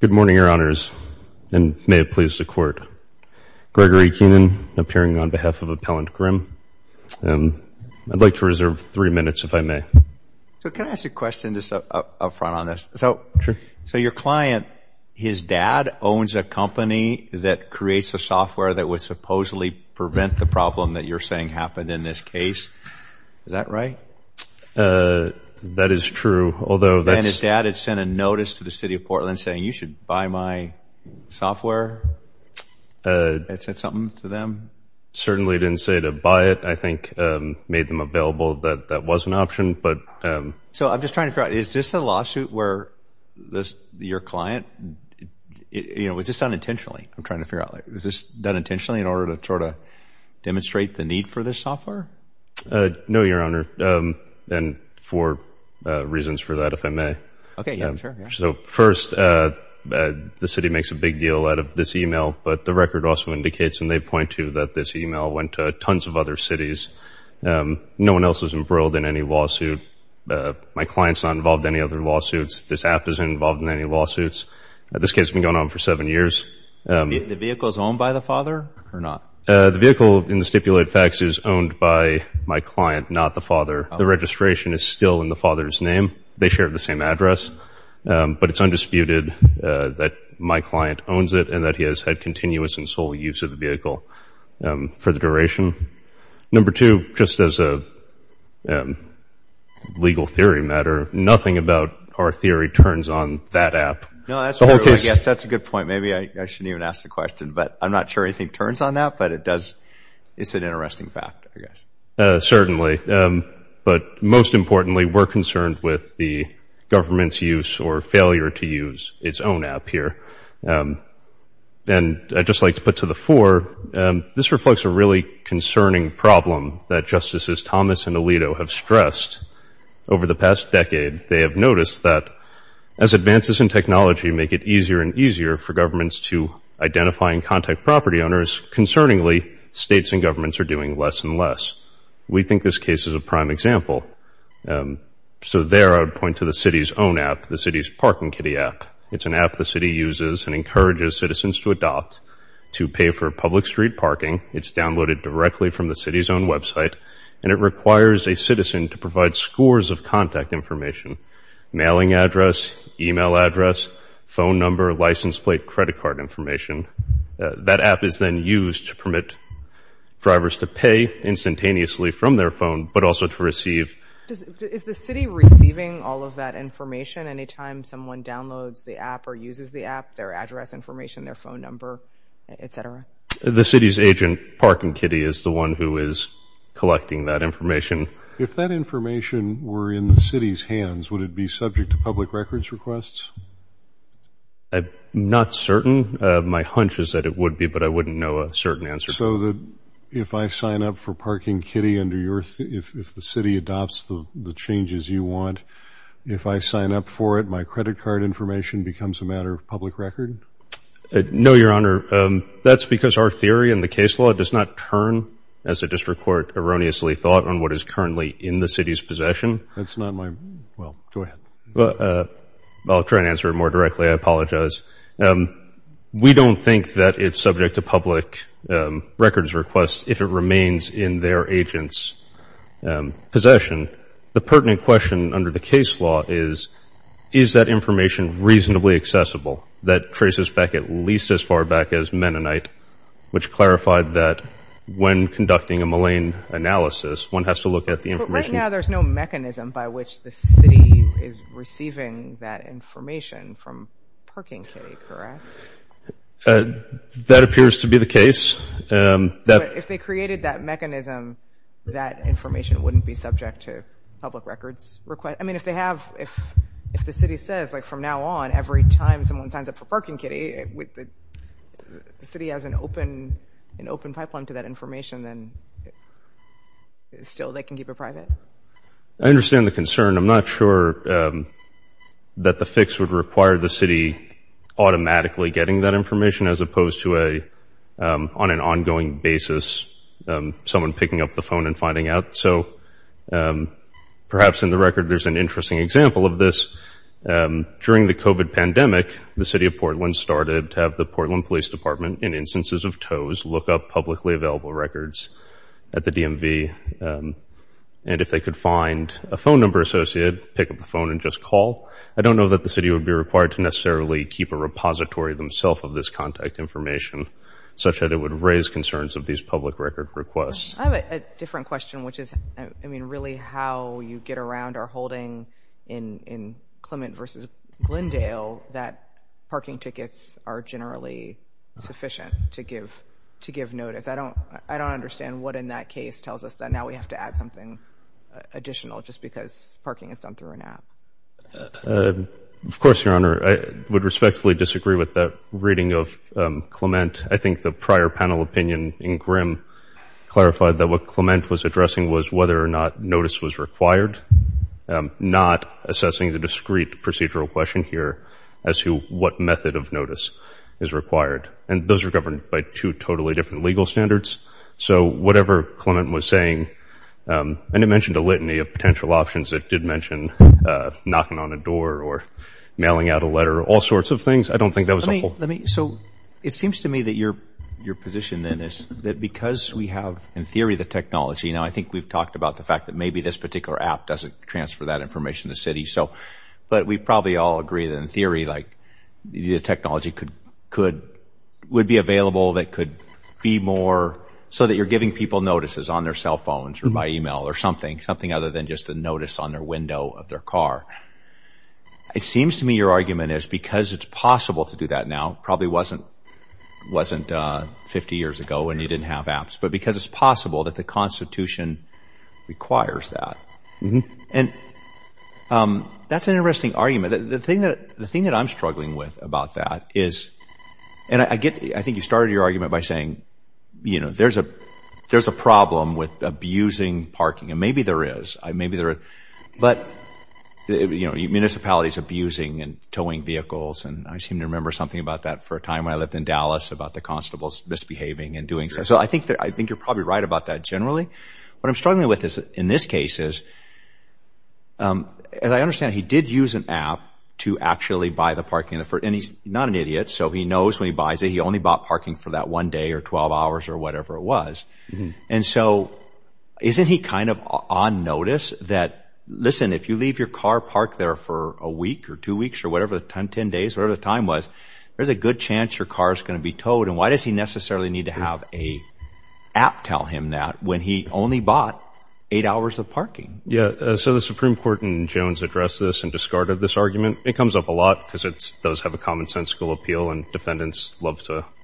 Good morning, Your Honors, and may it please the Court. Gregory Keenan, appearing on behalf of Appellant Grimm. I'd like to reserve three minutes, if I may. So, can I ask a question just up front on this? Sure. So, your client, his dad owns a company that creates a software that would supposedly prevent the problem that you're saying happened in this case. Is that right? That is true. And his dad had sent a notice to the City of Portland saying, you should buy my software. That said something to them? Certainly didn't say to buy it. I think made them available that that was an option. So I'm just trying to figure out, is this a lawsuit where your client, you know, was this done intentionally? I'm trying to figure out. Was this done intentionally in order to try to demonstrate the need for this software? No, Your Honor, and for reasons for that, if I may. So, first, the City makes a big deal out of this email, but the record also indicates and they point to that this email went to tons of other cities. No one else was embroiled in any lawsuit. My client's not involved in any other lawsuits. This app isn't involved in any lawsuits. This case has been going on for seven years. The vehicle is owned by the father or not? The vehicle in the stipulated facts is owned by my client, not the father. The registration is still in the father's name. They share the same address. But it's undisputed that my client owns it and that he has had continuous and sole use of the vehicle for the duration. Number two, just as a legal theory matter, nothing about our theory turns on that app. No, I guess that's a good point. Maybe I shouldn't even ask the question, but I'm not sure anything turns on that, but it does. It's an interesting fact, I guess. Certainly, but most importantly, we're concerned with the government's use or failure to use its own app here. And I'd just like to put to the fore, this reflects a really concerning problem that Justices Thomas and Alito have stressed over the past decade. They have noticed that as advances in technology make it easier and easier for governments to identify and contact property owners, concerningly, states and governments are doing less and less. We think this case is a prime example. So there, I would point to the city's own app, the city's Parking Kitty app. It's an app the city uses and encourages citizens to adopt to pay for public street parking. It's downloaded directly from the city's own website, and it requires a citizen to provide scores of contact information, mailing address, email address, phone number, license plate, credit card information. That app is then used to permit drivers to pay instantaneously from their phone, but also to receive – Is the city receiving all of that information anytime someone downloads the app or uses the app, their address information, their phone number, et cetera? The city's agent, Parking Kitty, is the one who is collecting that information. If that information were in the city's hands, would it be subject to public records requests? Not certain. My hunch is that it would be, but I wouldn't know a certain answer. So that if I sign up for Parking Kitty under your – if the city adopts the changes you want, if I sign up for it, my credit card information becomes a matter of public record? No, Your Honor. That's because our theory in the case law does not turn, as the district court erroneously thought, on what is currently in the city's possession. That's not my – well, go ahead. I'll try and answer it more directly. I apologize. We don't think that it's subject to public records requests if it remains in their agent's possession. The pertinent question under the case law is, is that information reasonably accessible? That traces back at least as far back as Mennonite, which clarified that when conducting a Mullane analysis, one has to look at the information – But right now, there's no mechanism by which the city is receiving that information from Parking Kitty, correct? That appears to be the case. If they created that mechanism, that information wouldn't be subject to public records requests? I mean, if they have – if the city says, like, from now on, every time someone signs up for Parking Kitty, the city has an open pipeline to that information, then still, they can keep it private? I understand the concern. I'm not sure that the fix would require the city automatically getting that information, as opposed to a – on an ongoing basis, someone picking up the phone and finding out. So, perhaps in the record, there's an interesting example of this. During the COVID pandemic, the city of Portland started to have the Portland Police Department, in instances of tows, look up publicly available records at the DMV. And if they could find a phone number associated, pick up the phone and just call. I don't know that the city would be required to necessarily keep a repository themself of this contact information, such that it would raise concerns of these public record requests. I have a different question, which is, I mean, really how you get around our holding in Clement v. Glendale that parking tickets are generally sufficient to give notice. I don't understand what in that case tells us that now we have to add something additional just because parking is done through an app. Of course, Your Honor, I would respectfully disagree with that reading of Clement. I think the prior panel opinion in Grimm clarified that what Clement was addressing was whether or not notice was required, not assessing the discrete procedural question here as to what method of notice is required. And those are governed by two totally different legal standards. So, whatever Clement was saying – and it mentioned a litany of potential options that did mention knocking on a door or mailing out a letter, all sorts of things. I don't think that was a whole – Let me – so, it seems to me that your position then is that because we have, in theory, the technology – now, I think we've talked about the fact that maybe this particular app doesn't transfer that information to cities. So – but we probably all agree that in theory, like, the technology could – would be available that could be more so that you're giving people notices on their cell phones or by email or something, something other than just a notice on their window of their car. It seems to me your argument is because it's possible to do that now – probably wasn't – wasn't 50 years ago when you didn't have apps – but because it's possible that the Constitution requires that. And that's an interesting argument. The thing that – the thing that I'm struggling with about that is – and I get – I think you started your argument by saying, you know, that there's a – there's a problem with abusing parking. And maybe there is. Maybe there – but, you know, municipalities abusing and towing vehicles. And I seem to remember something about that for a time when I lived in Dallas about the constables misbehaving and doing – so I think that – I think you're probably right about that generally. What I'm struggling with is, in this case, is – as I understand it, he did use an app to actually buy the parking for – and he's not an idiot, so he knows when he buys it. He only bought parking for that one day or 12 hours or whatever it was. And so isn't he kind of on notice that, listen, if you leave your car parked there for a week or two weeks or whatever – 10 days, whatever the time was, there's a good chance your car is going to be towed. And why does he necessarily need to have an app tell him that when he only bought eight hours of parking? Yeah, so the Supreme Court in Jones addressed this and discarded this argument. It comes up a lot because it does have a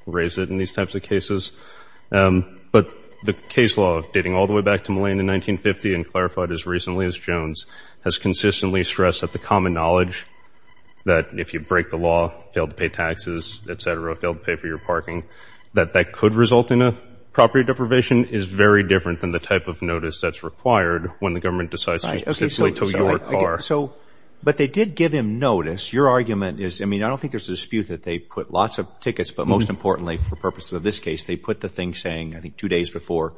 raise it in these types of cases. But the case law, dating all the way back to Mullane in 1950 and clarified as recently as Jones, has consistently stressed that the common knowledge that if you break the law, fail to pay taxes, et cetera, fail to pay for your parking, that that could result in a property deprivation is very different than the type of notice that's required when the government decides to specifically tow your car. So – but they did give him notice. Your argument is – I mean, I don't think there's a dispute that they put lots of tickets, but most importantly, for purposes of this case, they put the thing saying, I think, two days before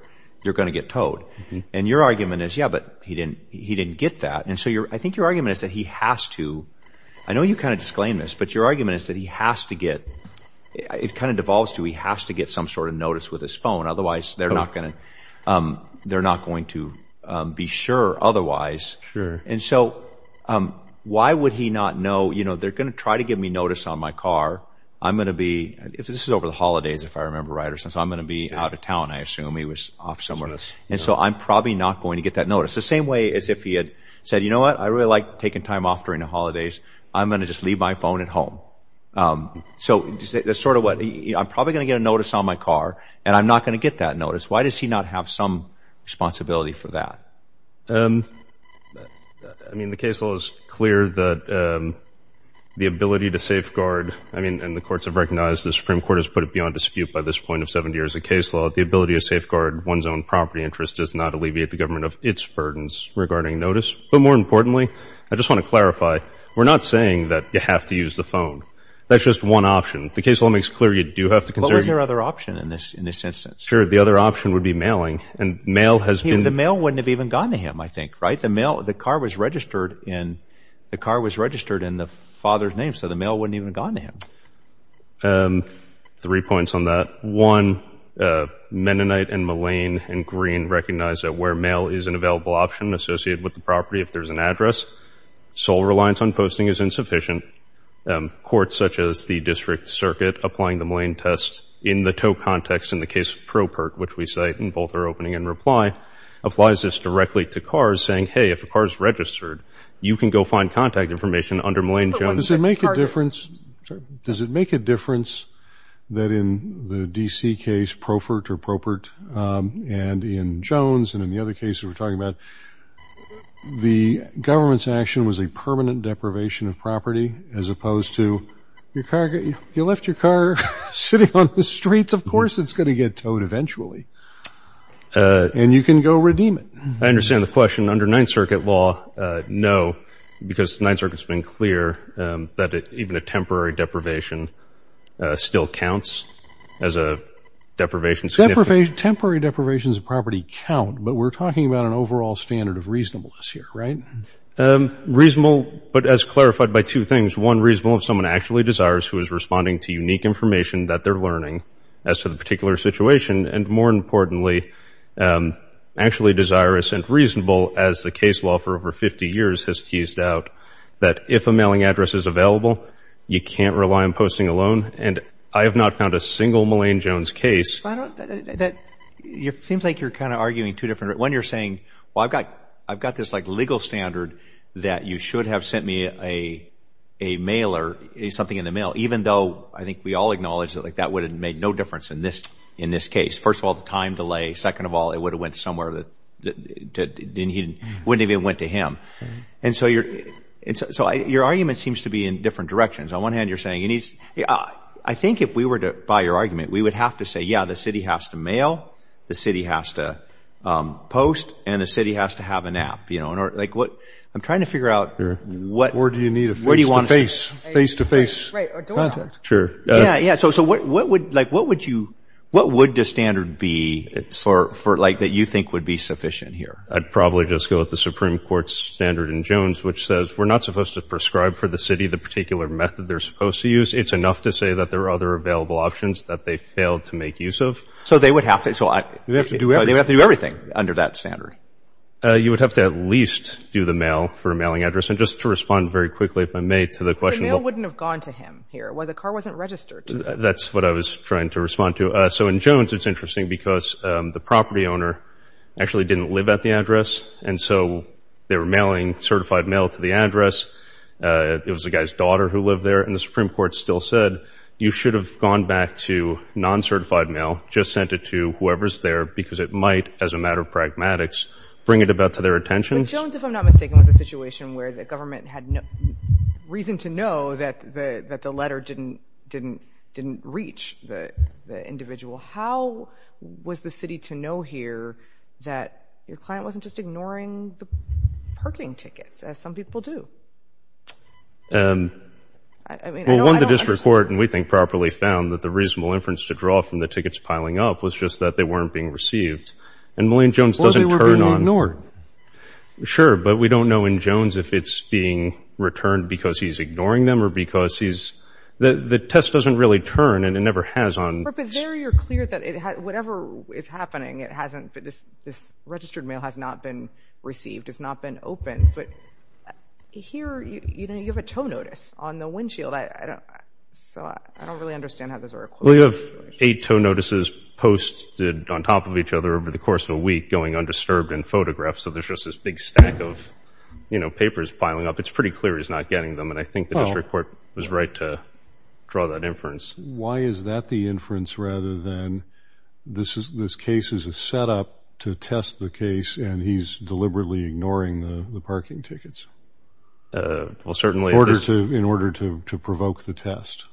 you're going to get towed. And your argument is, yeah, but he didn't get that. And so I think your argument is that he has to – I know you kind of disclaimed this, but your argument is that he has to get – it kind of devolves to he has to get some sort of notice with his phone. Otherwise, they're not going to be sure otherwise. Sure. And so why would he not know, you know, they're going to try to give me notice on my car. I'm going to be – this is over the holidays, if I remember right, or something. So I'm going to be out of town, I assume. He was off somewhere. And so I'm probably not going to get that notice. The same way as if he had said, you know what, I really like taking time off during the holidays. I'm going to just leave my phone at home. So that's sort of what – I'm probably going to get a notice on my car, and I'm not going to get that notice. Why does he not have some responsibility for that? I mean, the case law is clear that the ability to safeguard – I mean, and the courts have recognized the Supreme Court has put it beyond dispute by this point of 70 years of case law – the ability to safeguard one's own property interest does not alleviate the government of its burdens regarding notice. But more importantly, I just want to clarify, we're not saying that you have to use the phone. That's just one option. The case law makes clear you do have to consider – What was their other option in this instance? Sure. The other option would be mailing. And mail has been – I think, right? The mail – the car was registered in – the car was registered in the father's name, so the mail wouldn't even have gone to him. Three points on that. One, Mennonite and Mullane and Green recognize that where mail is an available option associated with the property if there's an address, sole reliance on posting is insufficient. Courts such as the District Circuit applying the Mullane test in the tow context in the case of Propert, which we cite in both our opening and reply, applies this directly to cars, saying, hey, if the car is registered, you can go find contact information under Mullane-Jones. But does it make a difference – does it make a difference that in the D.C. case, Propert or Propert, and in Jones and in the other cases we're talking about, the government's action was a permanent deprivation of property as opposed to your car – you left your car sitting on the streets, of course it's going to get towed eventually, and you can go redeem it. I understand the question. Under Ninth Circuit law, no, because the Ninth Circuit's been clear that even a temporary deprivation still counts as a deprivation. Temporary deprivations of property count, but we're talking about an overall standard of reasonableness here, right? Reasonable, but as clarified by two things. One, reasonable if someone actually desires who is responding to unique information that they're learning as to the particular situation, and more importantly, actually desirous and reasonable as the case law for over 50 years has teased out, that if a mailing address is available, you can't rely on posting a loan, and I have not found a single Mullane-Jones case – But I don't – that – it seems like you're kind of arguing two different – one, you're saying, well, I've got – I've got this, like, legal standard that you should have a mailer, something in the mail, even though I think we all acknowledge that, like, that would have made no difference in this – in this case. First of all, the time delay. Second of all, it would have went somewhere that didn't even – wouldn't even went to him. And so you're – so your argument seems to be in different directions. On one hand, you're saying you need – I think if we were to buy your argument, we would have to say, yeah, the city has to mail, the city has to post, and the city has to have an app, you know, in order – like, what – I'm trying to figure out what – Or do you need a face-to-face – Where do you want to – Face-to-face contact. Right, or door knock. Sure. Yeah, yeah. So what would – like, what would you – what would the standard be for – like, that you think would be sufficient here? I'd probably just go with the Supreme Court's standard in Jones, which says we're not supposed to prescribe for the city the particular method they're supposed to use. It's enough to say that there are other available options that they failed to make use of. So they would have to – so I – You'd have to do everything. So they would have to do everything under that standard. You would have to at least do the mail for a mailing address. And just to respond very quickly, if I may, to the question – The mail wouldn't have gone to him here. The car wasn't registered. That's what I was trying to respond to. So in Jones, it's interesting because the property owner actually didn't live at the address, and so they were mailing certified mail to the address. It was the guy's daughter who lived there, and the Supreme Court still said you should have gone back to non-certified mail, just sent it to whoever's there, because it might, as a matter of pragmatics, bring it about to their attention. But Jones, if I'm not mistaken, was a situation where the government had reason to know that the letter didn't reach the individual. How was the city to know here that your client wasn't just ignoring the parking tickets, as some people do? Well, one of the district court, and we think properly, found that the reasonable inference to draw from the tickets piling up was just that they weren't being received. And Millian Jones doesn't turn on – Sure, but we don't know in Jones if it's being returned because he's ignoring them or because he's – the test doesn't really turn, and it never has on – But there you're clear that it – whatever is happening, it hasn't – this registered mail has not been received. It's not been opened. But here, you know, you have a tow notice on the windshield. I don't – so I don't really understand how those are equated. We have eight tow notices posted on top of each other over the course of a week, going undisturbed and photographed. So there's just this big stack of, you know, papers piling up. It's pretty clear he's not getting them, and I think the district court was right to draw that inference. Why is that the inference rather than this case is a setup to test the case, and he's deliberately ignoring the parking tickets in order to provoke the test?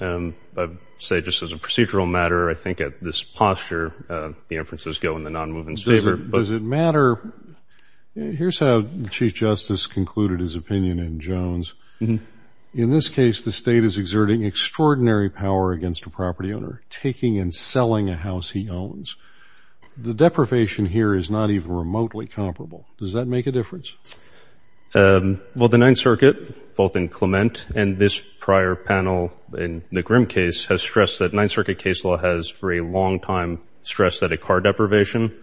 I would say just as a procedural matter, I think at this posture, the inferences go in the non-movement's favor. Does it matter – here's how the Chief Justice concluded his opinion in Jones. In this case, the state is exerting extraordinary power against a property owner, taking and selling a house he owns. The deprivation here is not even remotely comparable. Does that make a difference? Well, the Ninth Circuit, both in Clement and this prior panel in the Grimm case, has stressed that – Ninth Circuit case law has for a long time stressed that a car deprivation,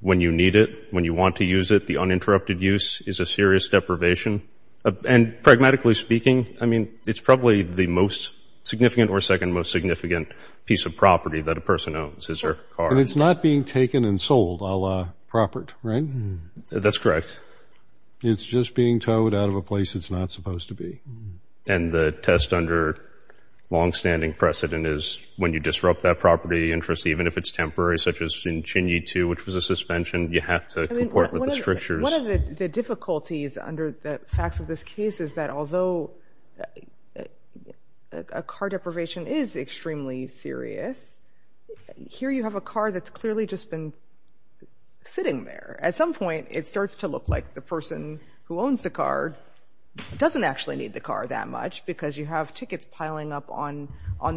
when you need it, when you want to use it, the uninterrupted use is a serious deprivation. And pragmatically speaking, I mean, it's probably the most significant or second most significant piece of property that a person owns is their car. And it's not being taken and sold a la property, right? That's correct. It's just being towed out of a place it's not supposed to be. And the test under long-standing precedent is when you disrupt that property interest, even if it's temporary, such as in Chin Yee 2, which was a suspension, you have to comport with the strictures. One of the difficulties under the facts of this case is that although a car deprivation is extremely serious, here you have a car that's clearly just been sitting there. At some point, it starts to look like the person who owns the car doesn't actually need the car that much because you have tickets piling up on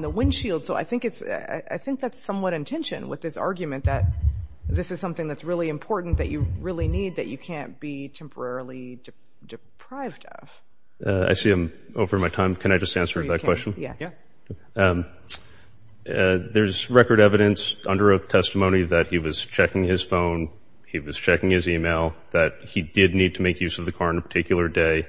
the windshield. So I think it's – I think that's somewhat in tension with this argument that this is something that's really important, that you really need, that you can't be temporarily deprived of. I see I'm over my time. Can I just answer that question? Yes. There's record evidence under a testimony that he was checking his phone, he was checking his email, that he did need to make use of the car on a particular day.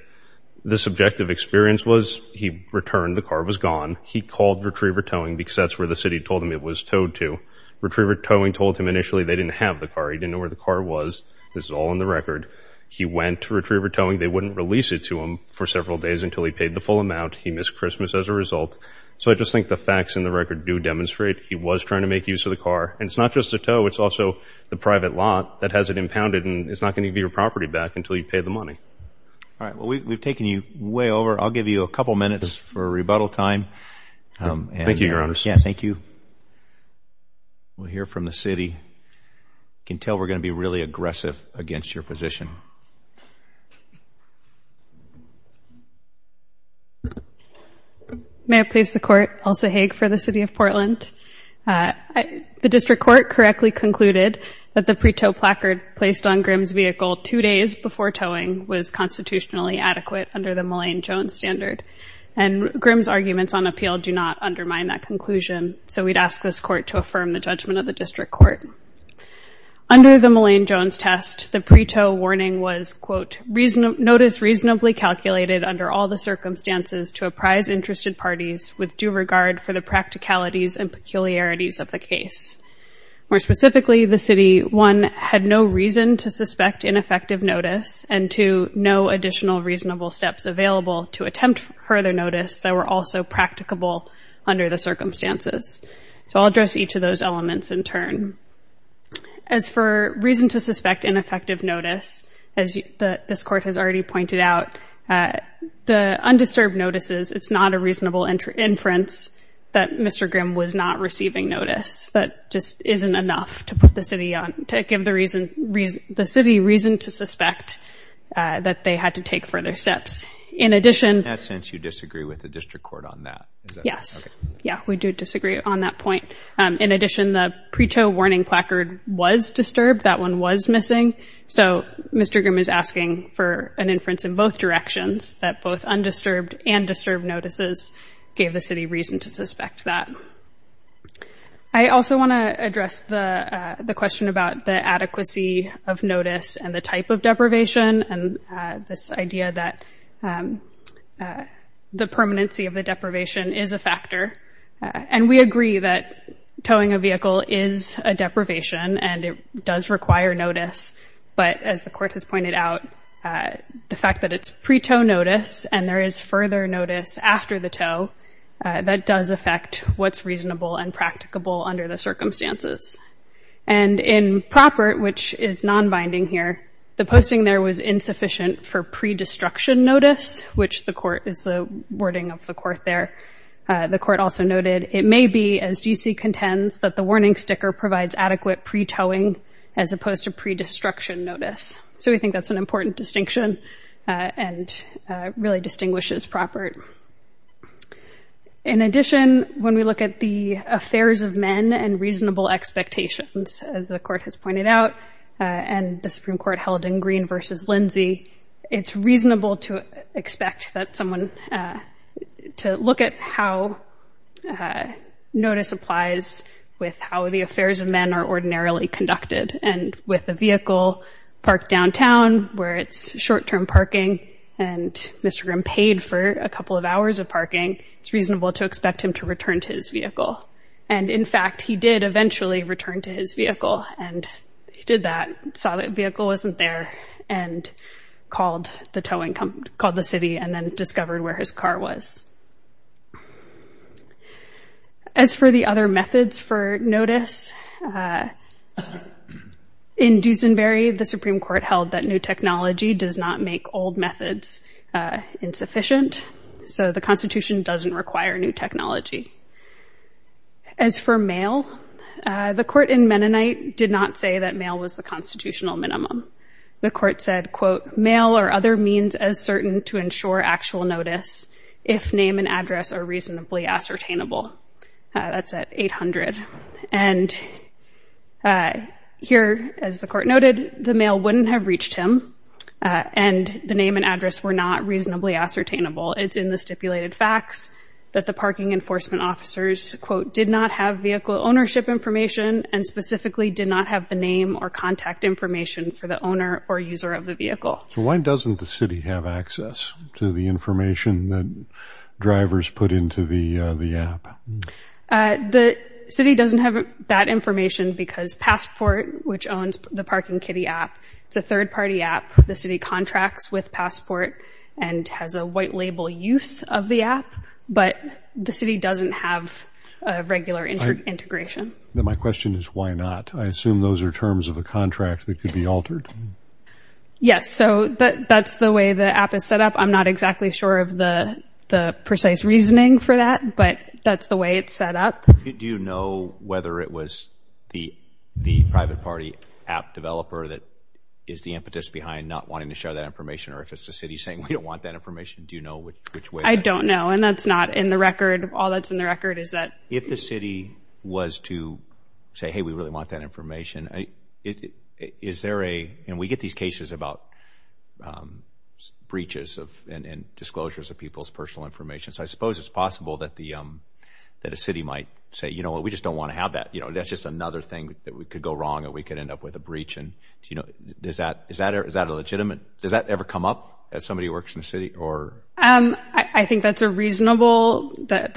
The subjective experience was he returned, the car was gone. He called Retriever Towing because that's where the city told him it was towed to. Retriever Towing told him initially they didn't have the car. He didn't know where the car was. This is all in the record. He went to Retriever Towing. They wouldn't release it to him for several days until he paid the full amount. He missed Christmas as a result. So I just think the facts in the record do demonstrate he was trying to make use of the car. And it's not just the tow, it's also the private lot that has it impounded and it's not going to give your property back until you pay the money. All right. Well, we've taken you way over. I'll give you a couple minutes for rebuttal time. Thank you, Your Honor. Yeah, thank you. We'll hear from the city. I can tell we're going to be really aggressive against your position. May I please the court? Elsa Haag for the city of Portland. The district court correctly concluded that the pre-tow placard placed on Grimm's vehicle two days before towing was constitutionally adequate under the Mullane-Jones standard. And Grimm's arguments on appeal do not undermine that conclusion. So we'd ask this court to affirm the judgment of the district court. Under the Mullane-Jones test, the pre-tow warning was, quote, notice reasonably calculated under all the circumstances to apprise interested parties with due regard for the practicalities and peculiarities of the case. More specifically, the city, one, had no reason to suspect ineffective notice, and two, no additional reasonable steps available to attempt further notice that were also practicable under the circumstances. So I'll address each of those elements in turn. As for reason to suspect ineffective notice, as this court has already pointed out, the undisturbed notices, it's not a reasonable inference that Mr. Grimm was not receiving notice. That just isn't enough to give the city reason to suspect that they had to take further steps. In that sense, you disagree with the district court on that? Yes. Yeah, we do disagree on that point. In addition, the pre-tow warning placard was disturbed. That one was missing. So Mr. Grimm is asking for an inference in both directions, that both undisturbed and disturbed notices gave the city reason to suspect that. I also want to address the question about the adequacy of notice and the type of deprivation and this idea that the permanency of the deprivation is a factor. And we agree that towing a vehicle is a deprivation and it does require notice. But as the court has pointed out, the fact that it's pre-tow notice and there is further notice after the tow, that does affect what's reasonable and practicable under the circumstances. And in proper, which is non-binding here, the posting there was insufficient for pre-destruction notice, which the court is the wording of the court there. The court also noted, it may be, as GC contends, that the warning sticker provides adequate pre-towing as opposed to pre-destruction notice. So we think that's an important distinction and really distinguishes proper. In addition, when we look at the affairs of men and reasonable expectations, as the court has pointed out, and the Supreme Court held in Green versus Lindsay, it's reasonable to expect that someone to look at how notice applies with how the affairs of men are ordinarily conducted. And with a vehicle parked downtown where it's short-term parking and Mr. Grimm paid for a couple of hours of parking, it's reasonable to expect him to return to his vehicle. And in fact, he did eventually return to his vehicle and he did that, saw that vehicle wasn't there and called the towing company, called the city and then discovered where his car was. As for the other methods for notice, in Duesenberry, the Supreme Court held that new technology does not make old methods insufficient. So the Constitution doesn't require new technology. As for mail, the court in Mennonite did not say that mail was the constitutional minimum. The court said, quote, mail or other means as certain to ensure actual notice if name and address are reasonably ascertainable. That's at 800. And here, as the court noted, the mail wouldn't have reached him and the name and address were not reasonably ascertainable. It's in the stipulated facts that the parking enforcement officers, quote, did not have vehicle ownership information and specifically did not have the name or contact information for the owner or user of the vehicle. So why doesn't the city have access to the information that drivers put into the app? The city doesn't have that information because Passport, which owns the Parking Kitty app, it's a third-party app. The city contracts with Passport and has a white label use of the app, but the city doesn't have a regular integration. My question is why not? I assume those are terms of the contract that could be altered. Yes, so that's the way the app is set up. I'm not exactly sure of the precise reasoning for that, but that's the way it's set up. Do you know whether it was the private party app developer that is the impetus behind not wanting to share that information or if it's the city saying we don't want that information? Do you know which way? I don't know and that's not in the record. All that's in the record is that... If the city was to say, hey, we really want that information, is there a... And we get these cases about breaches and disclosures of people's personal information. So I suppose it's possible that a city might say, you know what, we just don't want to have that. That's just another thing that could go wrong and we could end up with a breach. Does that ever come up as somebody who works in the city? I think that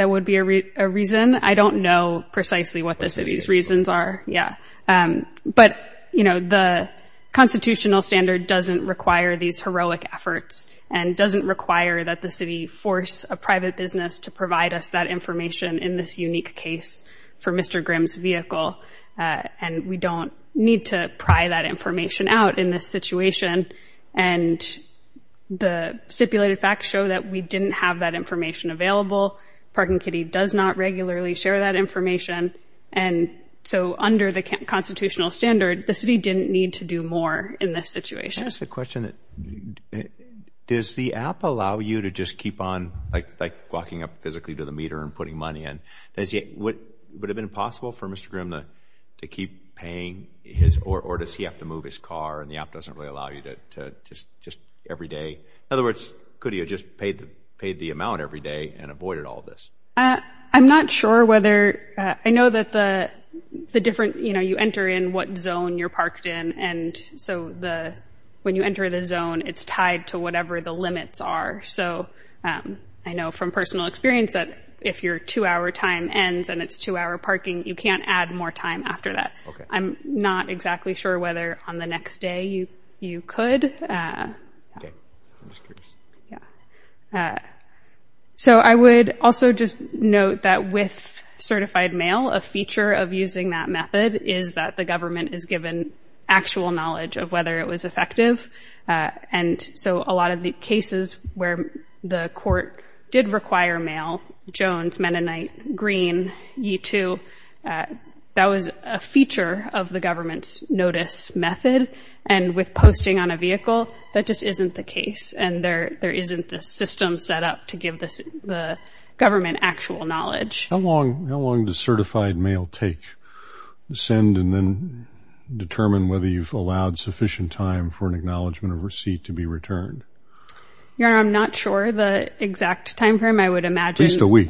would be a reason. I don't know precisely what the city's reasons are, yeah. But the constitutional standard doesn't require these heroic efforts and doesn't require that the city force a private business to provide us that information in this unique case for Mr. Grimm's vehicle. And we don't need to pry that information out in this situation. And the stipulated facts show that we didn't have that information available. Parking Kitty does not regularly share that information. And so under the constitutional standard, the city didn't need to do more in this situation. That's the question. Does the app allow you to just keep on, like walking up physically to the meter and putting money in? Would it have been possible for Mr. Grimm to keep paying his, or does he have to move his car and the app doesn't really allow you to just every day? In other words, could he have just paid the amount every day and avoided all this? I'm not sure whether, I know that the different, you know, you enter in what zone you're parked in. And so when you enter the zone, it's tied to whatever the limits are. So I know from personal experience that if your two-hour time ends and it's two-hour parking, you can't add more time after that. I'm not exactly sure whether on the next day you could. So I would also just note that with certified mail, a feature of using that method is that the government is given actual knowledge of whether it was effective. And so a lot of the cases where the court did require mail, Jones, Mennonite, Green, Yee-Too, that was a feature of the government's notice method. And with posting on a vehicle, that just isn't the case. And there isn't the system set up to give the government actual knowledge. How long does certified mail take? Send and then determine whether you've allowed sufficient time for an acknowledgement of receipt to be returned. Your Honor, I'm not sure the exact time frame. I would imagine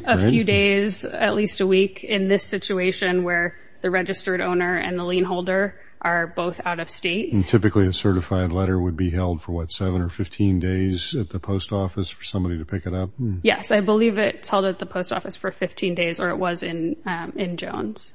a few days, at least a week, in this situation where the registered owner and the lien holder are both out of state. And typically a certified letter would be held for, what, seven or 15 days at the post office for somebody to pick it up? Yes, I believe it's held at the post office for 15 days, or it was in Jones.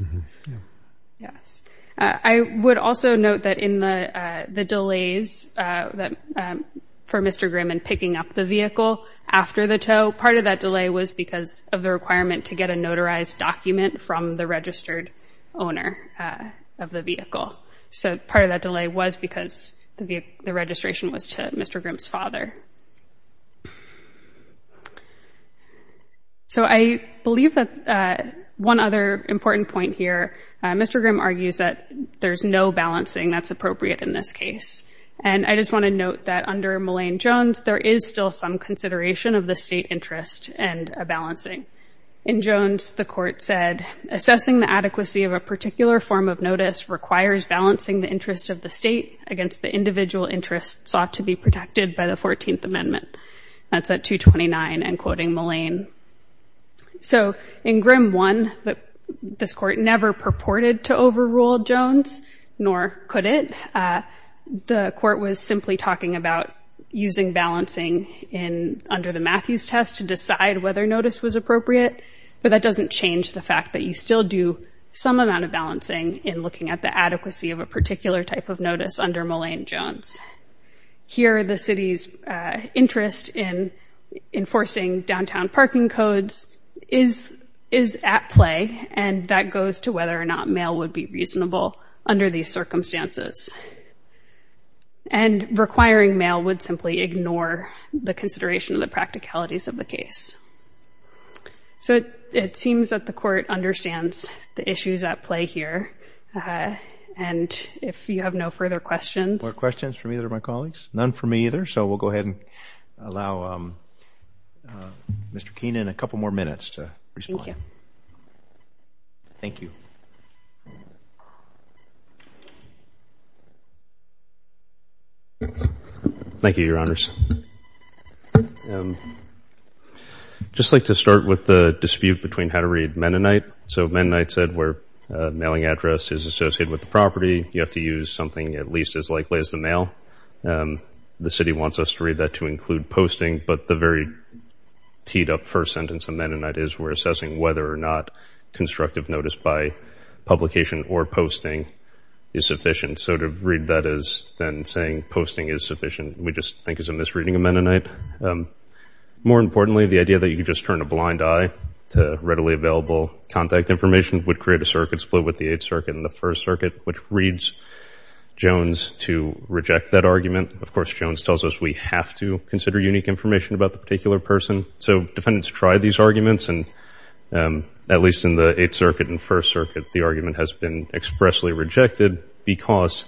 Yes, I would also note that in the delays for Mr. Grimm in picking up the vehicle after the tow, part of that delay was because of the requirement to get a notarized document from the registered owner of the vehicle. So part of that delay was because the registration was to Mr. Grimm's father. So I believe that one other important point here, Mr. Grimm argues that there's no balancing that's appropriate in this case. And I just want to note that under Mullane-Jones, there is still some consideration of the state interest and a balancing. In Jones, the court said, assessing the adequacy of a particular form of notice requires balancing the interest of the state against the individual interests sought to be protected by the 14th Amendment. That's at 229 and quoting Mullane. So in Grimm 1, this court never purported to overrule Jones, nor could it. The court was simply talking about using balancing under the Matthews test to decide whether notice was appropriate. But that doesn't change the fact that you still do some amount of balancing in looking at the adequacy of a particular type of notice under Mullane-Jones. Here, the city's interest in enforcing downtown parking codes is at play. And that goes to whether or not mail would be reasonable under these circumstances. And requiring mail would simply ignore the consideration of the practicalities of the case. So it seems that the court understands the issues at play here. And if you have no further questions. No questions from either of my colleagues. None from me either. So we'll go ahead and allow Mr. Keenan a couple more minutes to respond. Thank you. Thank you, Your Honors. Just like to start with the dispute between how to read Mennonite. So Mennonite said where mailing address is associated with the property, you have to use something at least as likely as the mail. The city wants us to read that to include posting. But the very teed up first sentence of Mennonite is we're assessing whether or not constructive notice by publication or posting is sufficient. So to read that as then saying posting is sufficient, we just think is a misreading of Mennonite. More importantly, the idea that you could just turn a blind eye to readily available contact information would create a circuit split with the Eighth Circuit and the First Circuit, which reads Jones to reject that argument. Of course, Jones tells us we have to consider unique information about the particular person. So defendants try these arguments. And at least in the Eighth Circuit and First Circuit, the argument has been expressly rejected because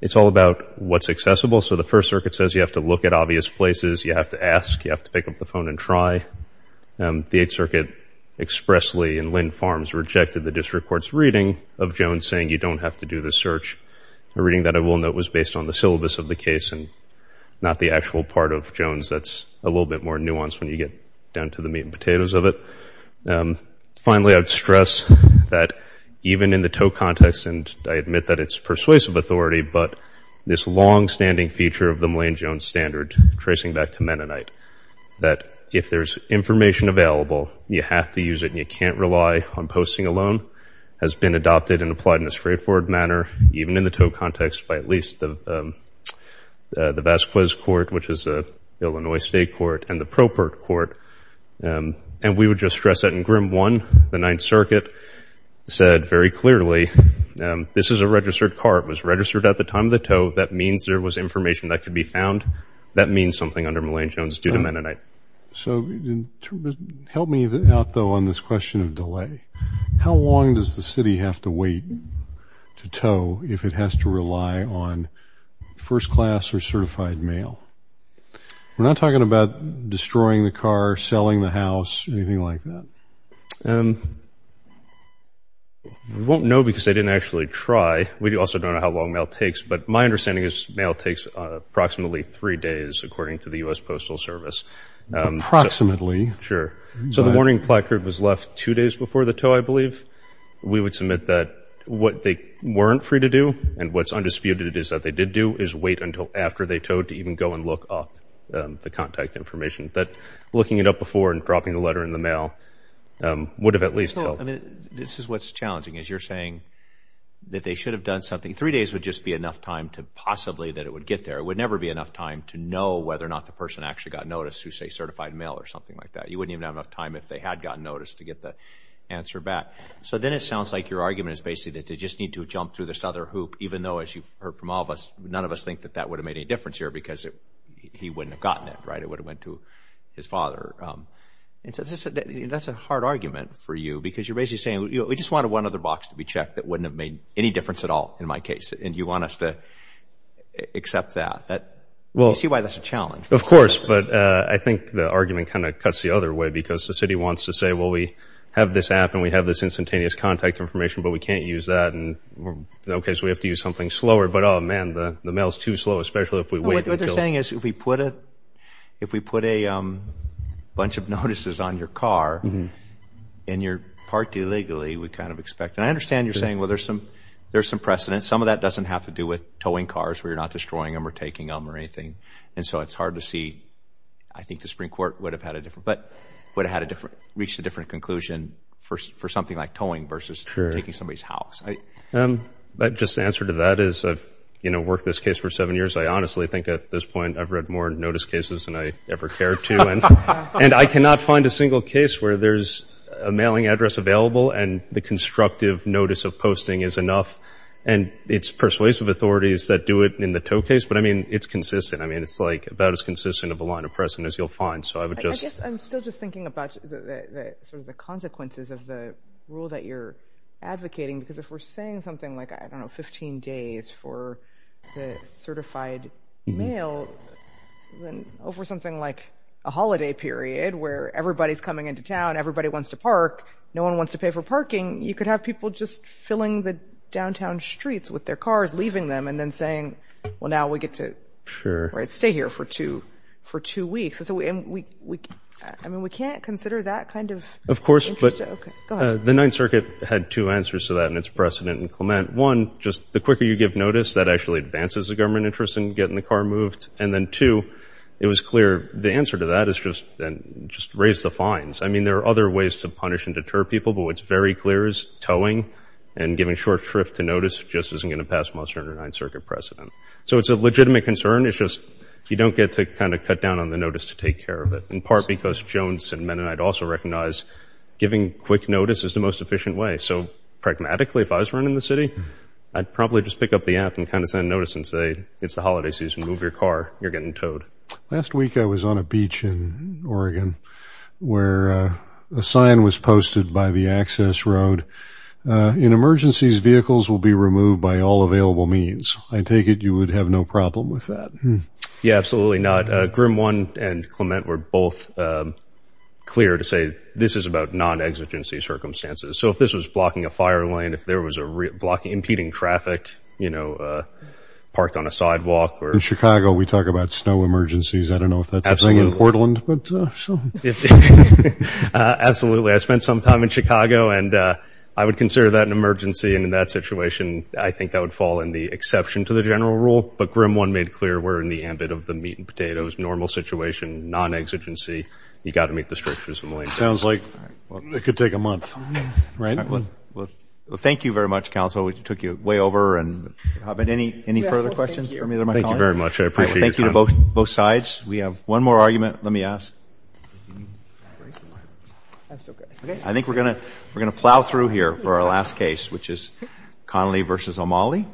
it's all about what's accessible. So the First Circuit says you have to look at obvious places. You have to ask. You have to pick up the phone and try. The Eighth Circuit expressly in Lynn Farms rejected the district court's reading of Jones saying you don't have to do the search. The reading that I will note was based on the syllabus of the case and not the actual part of Jones that's a little bit more nuanced when you get down to the meat and potatoes of it. Finally, I would stress that even in the Toe context, and I admit that it's persuasive authority, but this long-standing feature of the Millane-Jones standard, tracing back to Mennonite, that if there's information available, you have to use it and you can't rely on posting alone, has been adopted and applied in a straightforward manner, even in the Toe context by at least the Vasquez Court, which is an Illinois state court, and the Propert Court. And we would just stress that in Grimm 1, the Ninth Circuit said very clearly, this is a registered card. It was registered at the time of the Toe. That means there was information that could be found. That means something under Millane-Jones due to Mennonite. So help me out, though, on this question of delay. How long does the city have to wait to Toe if it has to rely on first-class or certified mail? We're not talking about destroying the car, selling the house, anything like that. We won't know because they didn't actually try. We also don't know how long mail takes, but my understanding is mail takes approximately three days, according to the U.S. Postal Service. Approximately? Sure. So the warning placard was left two days before the Toe, I believe. We would submit that what they weren't free to do and what's undisputed is that they did do is wait until after they Toed to even go and look up the contact information. But looking it up before and dropping the letter in the mail would have at least helped. I mean, this is what's challenging, is you're saying that they should have done something. Three days would just be enough time to possibly that it would get there. It would never be enough time to know whether or not the person actually got noticed who, say, certified mail or something like that. You wouldn't even have enough time if they had gotten noticed to get the answer back. So then it sounds like your argument is basically that they just need to jump through this other hoop, even though, as you've heard from all of us, none of us think that that would have made any difference here because he wouldn't have gotten it, right? It would have went to his father. That's a hard argument for you because you're basically saying, we just wanted one other box to be checked that wouldn't have made any difference at all in my case, and you want us to accept that. Well, you see why that's a challenge. Of course. But I think the argument kind of cuts the other way because the city wants to say, well, we have this app and we have this instantaneous contact information, but we can't use that. And, okay, so we have to use something slower. But, oh, man, the mail is too slow, especially if we wait until... What they're saying is if we put a bunch of notices on your car and you're parked illegally, we kind of expect... I understand you're saying, well, there's some precedent. Some of that doesn't have to do with towing cars where you're not destroying them or taking them or anything. And so it's hard to see. I think the Supreme Court would have had a different... But would have reached a different conclusion for something like towing versus taking somebody's house. Just the answer to that is I've worked this case for seven years. I honestly think at this point, I've read more notice cases than I ever cared to. And I cannot find a single case where there's a mailing address available and the constructive notice of posting is enough. And it's persuasive authorities that do it in the tow case. But, I mean, it's consistent. I mean, it's about as consistent of a line of precedent as you'll find. So I would just... I'm still just thinking about the consequences of the rule that you're advocating. Because if we're saying something like, I don't know, 15 days for the certified mail, then over something like a holiday period where everybody's coming into town, everybody wants to park, no one wants to pay for parking, you could have people just filling the downtown streets with their cars, leaving them and then saying, well, now we get to stay here for two weeks. I mean, we can't consider that kind of... Of course, but the Ninth Circuit had two answers to that and its precedent in Clement. One, just the quicker you give notice, that actually advances the government interest in getting the car moved. And then two, it was clear the answer to that is just raise the fines. I mean, there are other ways to punish and deter people, but what's very clear is towing and giving short shrift to notice just isn't going to pass most under Ninth Circuit precedent. So it's a legitimate concern. It's just you don't get to kind of cut down on the notice to take care of it, in part because Jones and Mennonite also recognize giving quick notice is the most efficient way. So pragmatically, if I was running the city, I'd probably just pick up the app and kind of send notice and say, it's the holiday season, move your car, you're getting towed. Last week, I was on a beach in Oregon where a sign was posted by the access road. In emergencies, vehicles will be removed by all available means. I take it you would have no problem with that. Yeah, absolutely not. Grimm 1 and Clement were both clear to say this is about non-exigency circumstances. So if this was blocking a fire lane, if there was a block impeding traffic, parked on a sidewalk or... We talk about snow emergencies. I don't know if that's a thing in Portland. I spent some time in Chicago and I would consider that an emergency. And in that situation, I think that would fall in the exception to the general rule. But Grimm 1 made clear we're in the ambit of the meat and potatoes, normal situation, non-exigency. You got to meet the strictures. It sounds like it could take a month, right? Thank you very much, counsel. We took you way over. And any further questions from either of my colleagues? Thank you to both sides. We have one more argument. Let me ask. I think we're going to plow through here for our last case, which is Connolly v. O'Malley.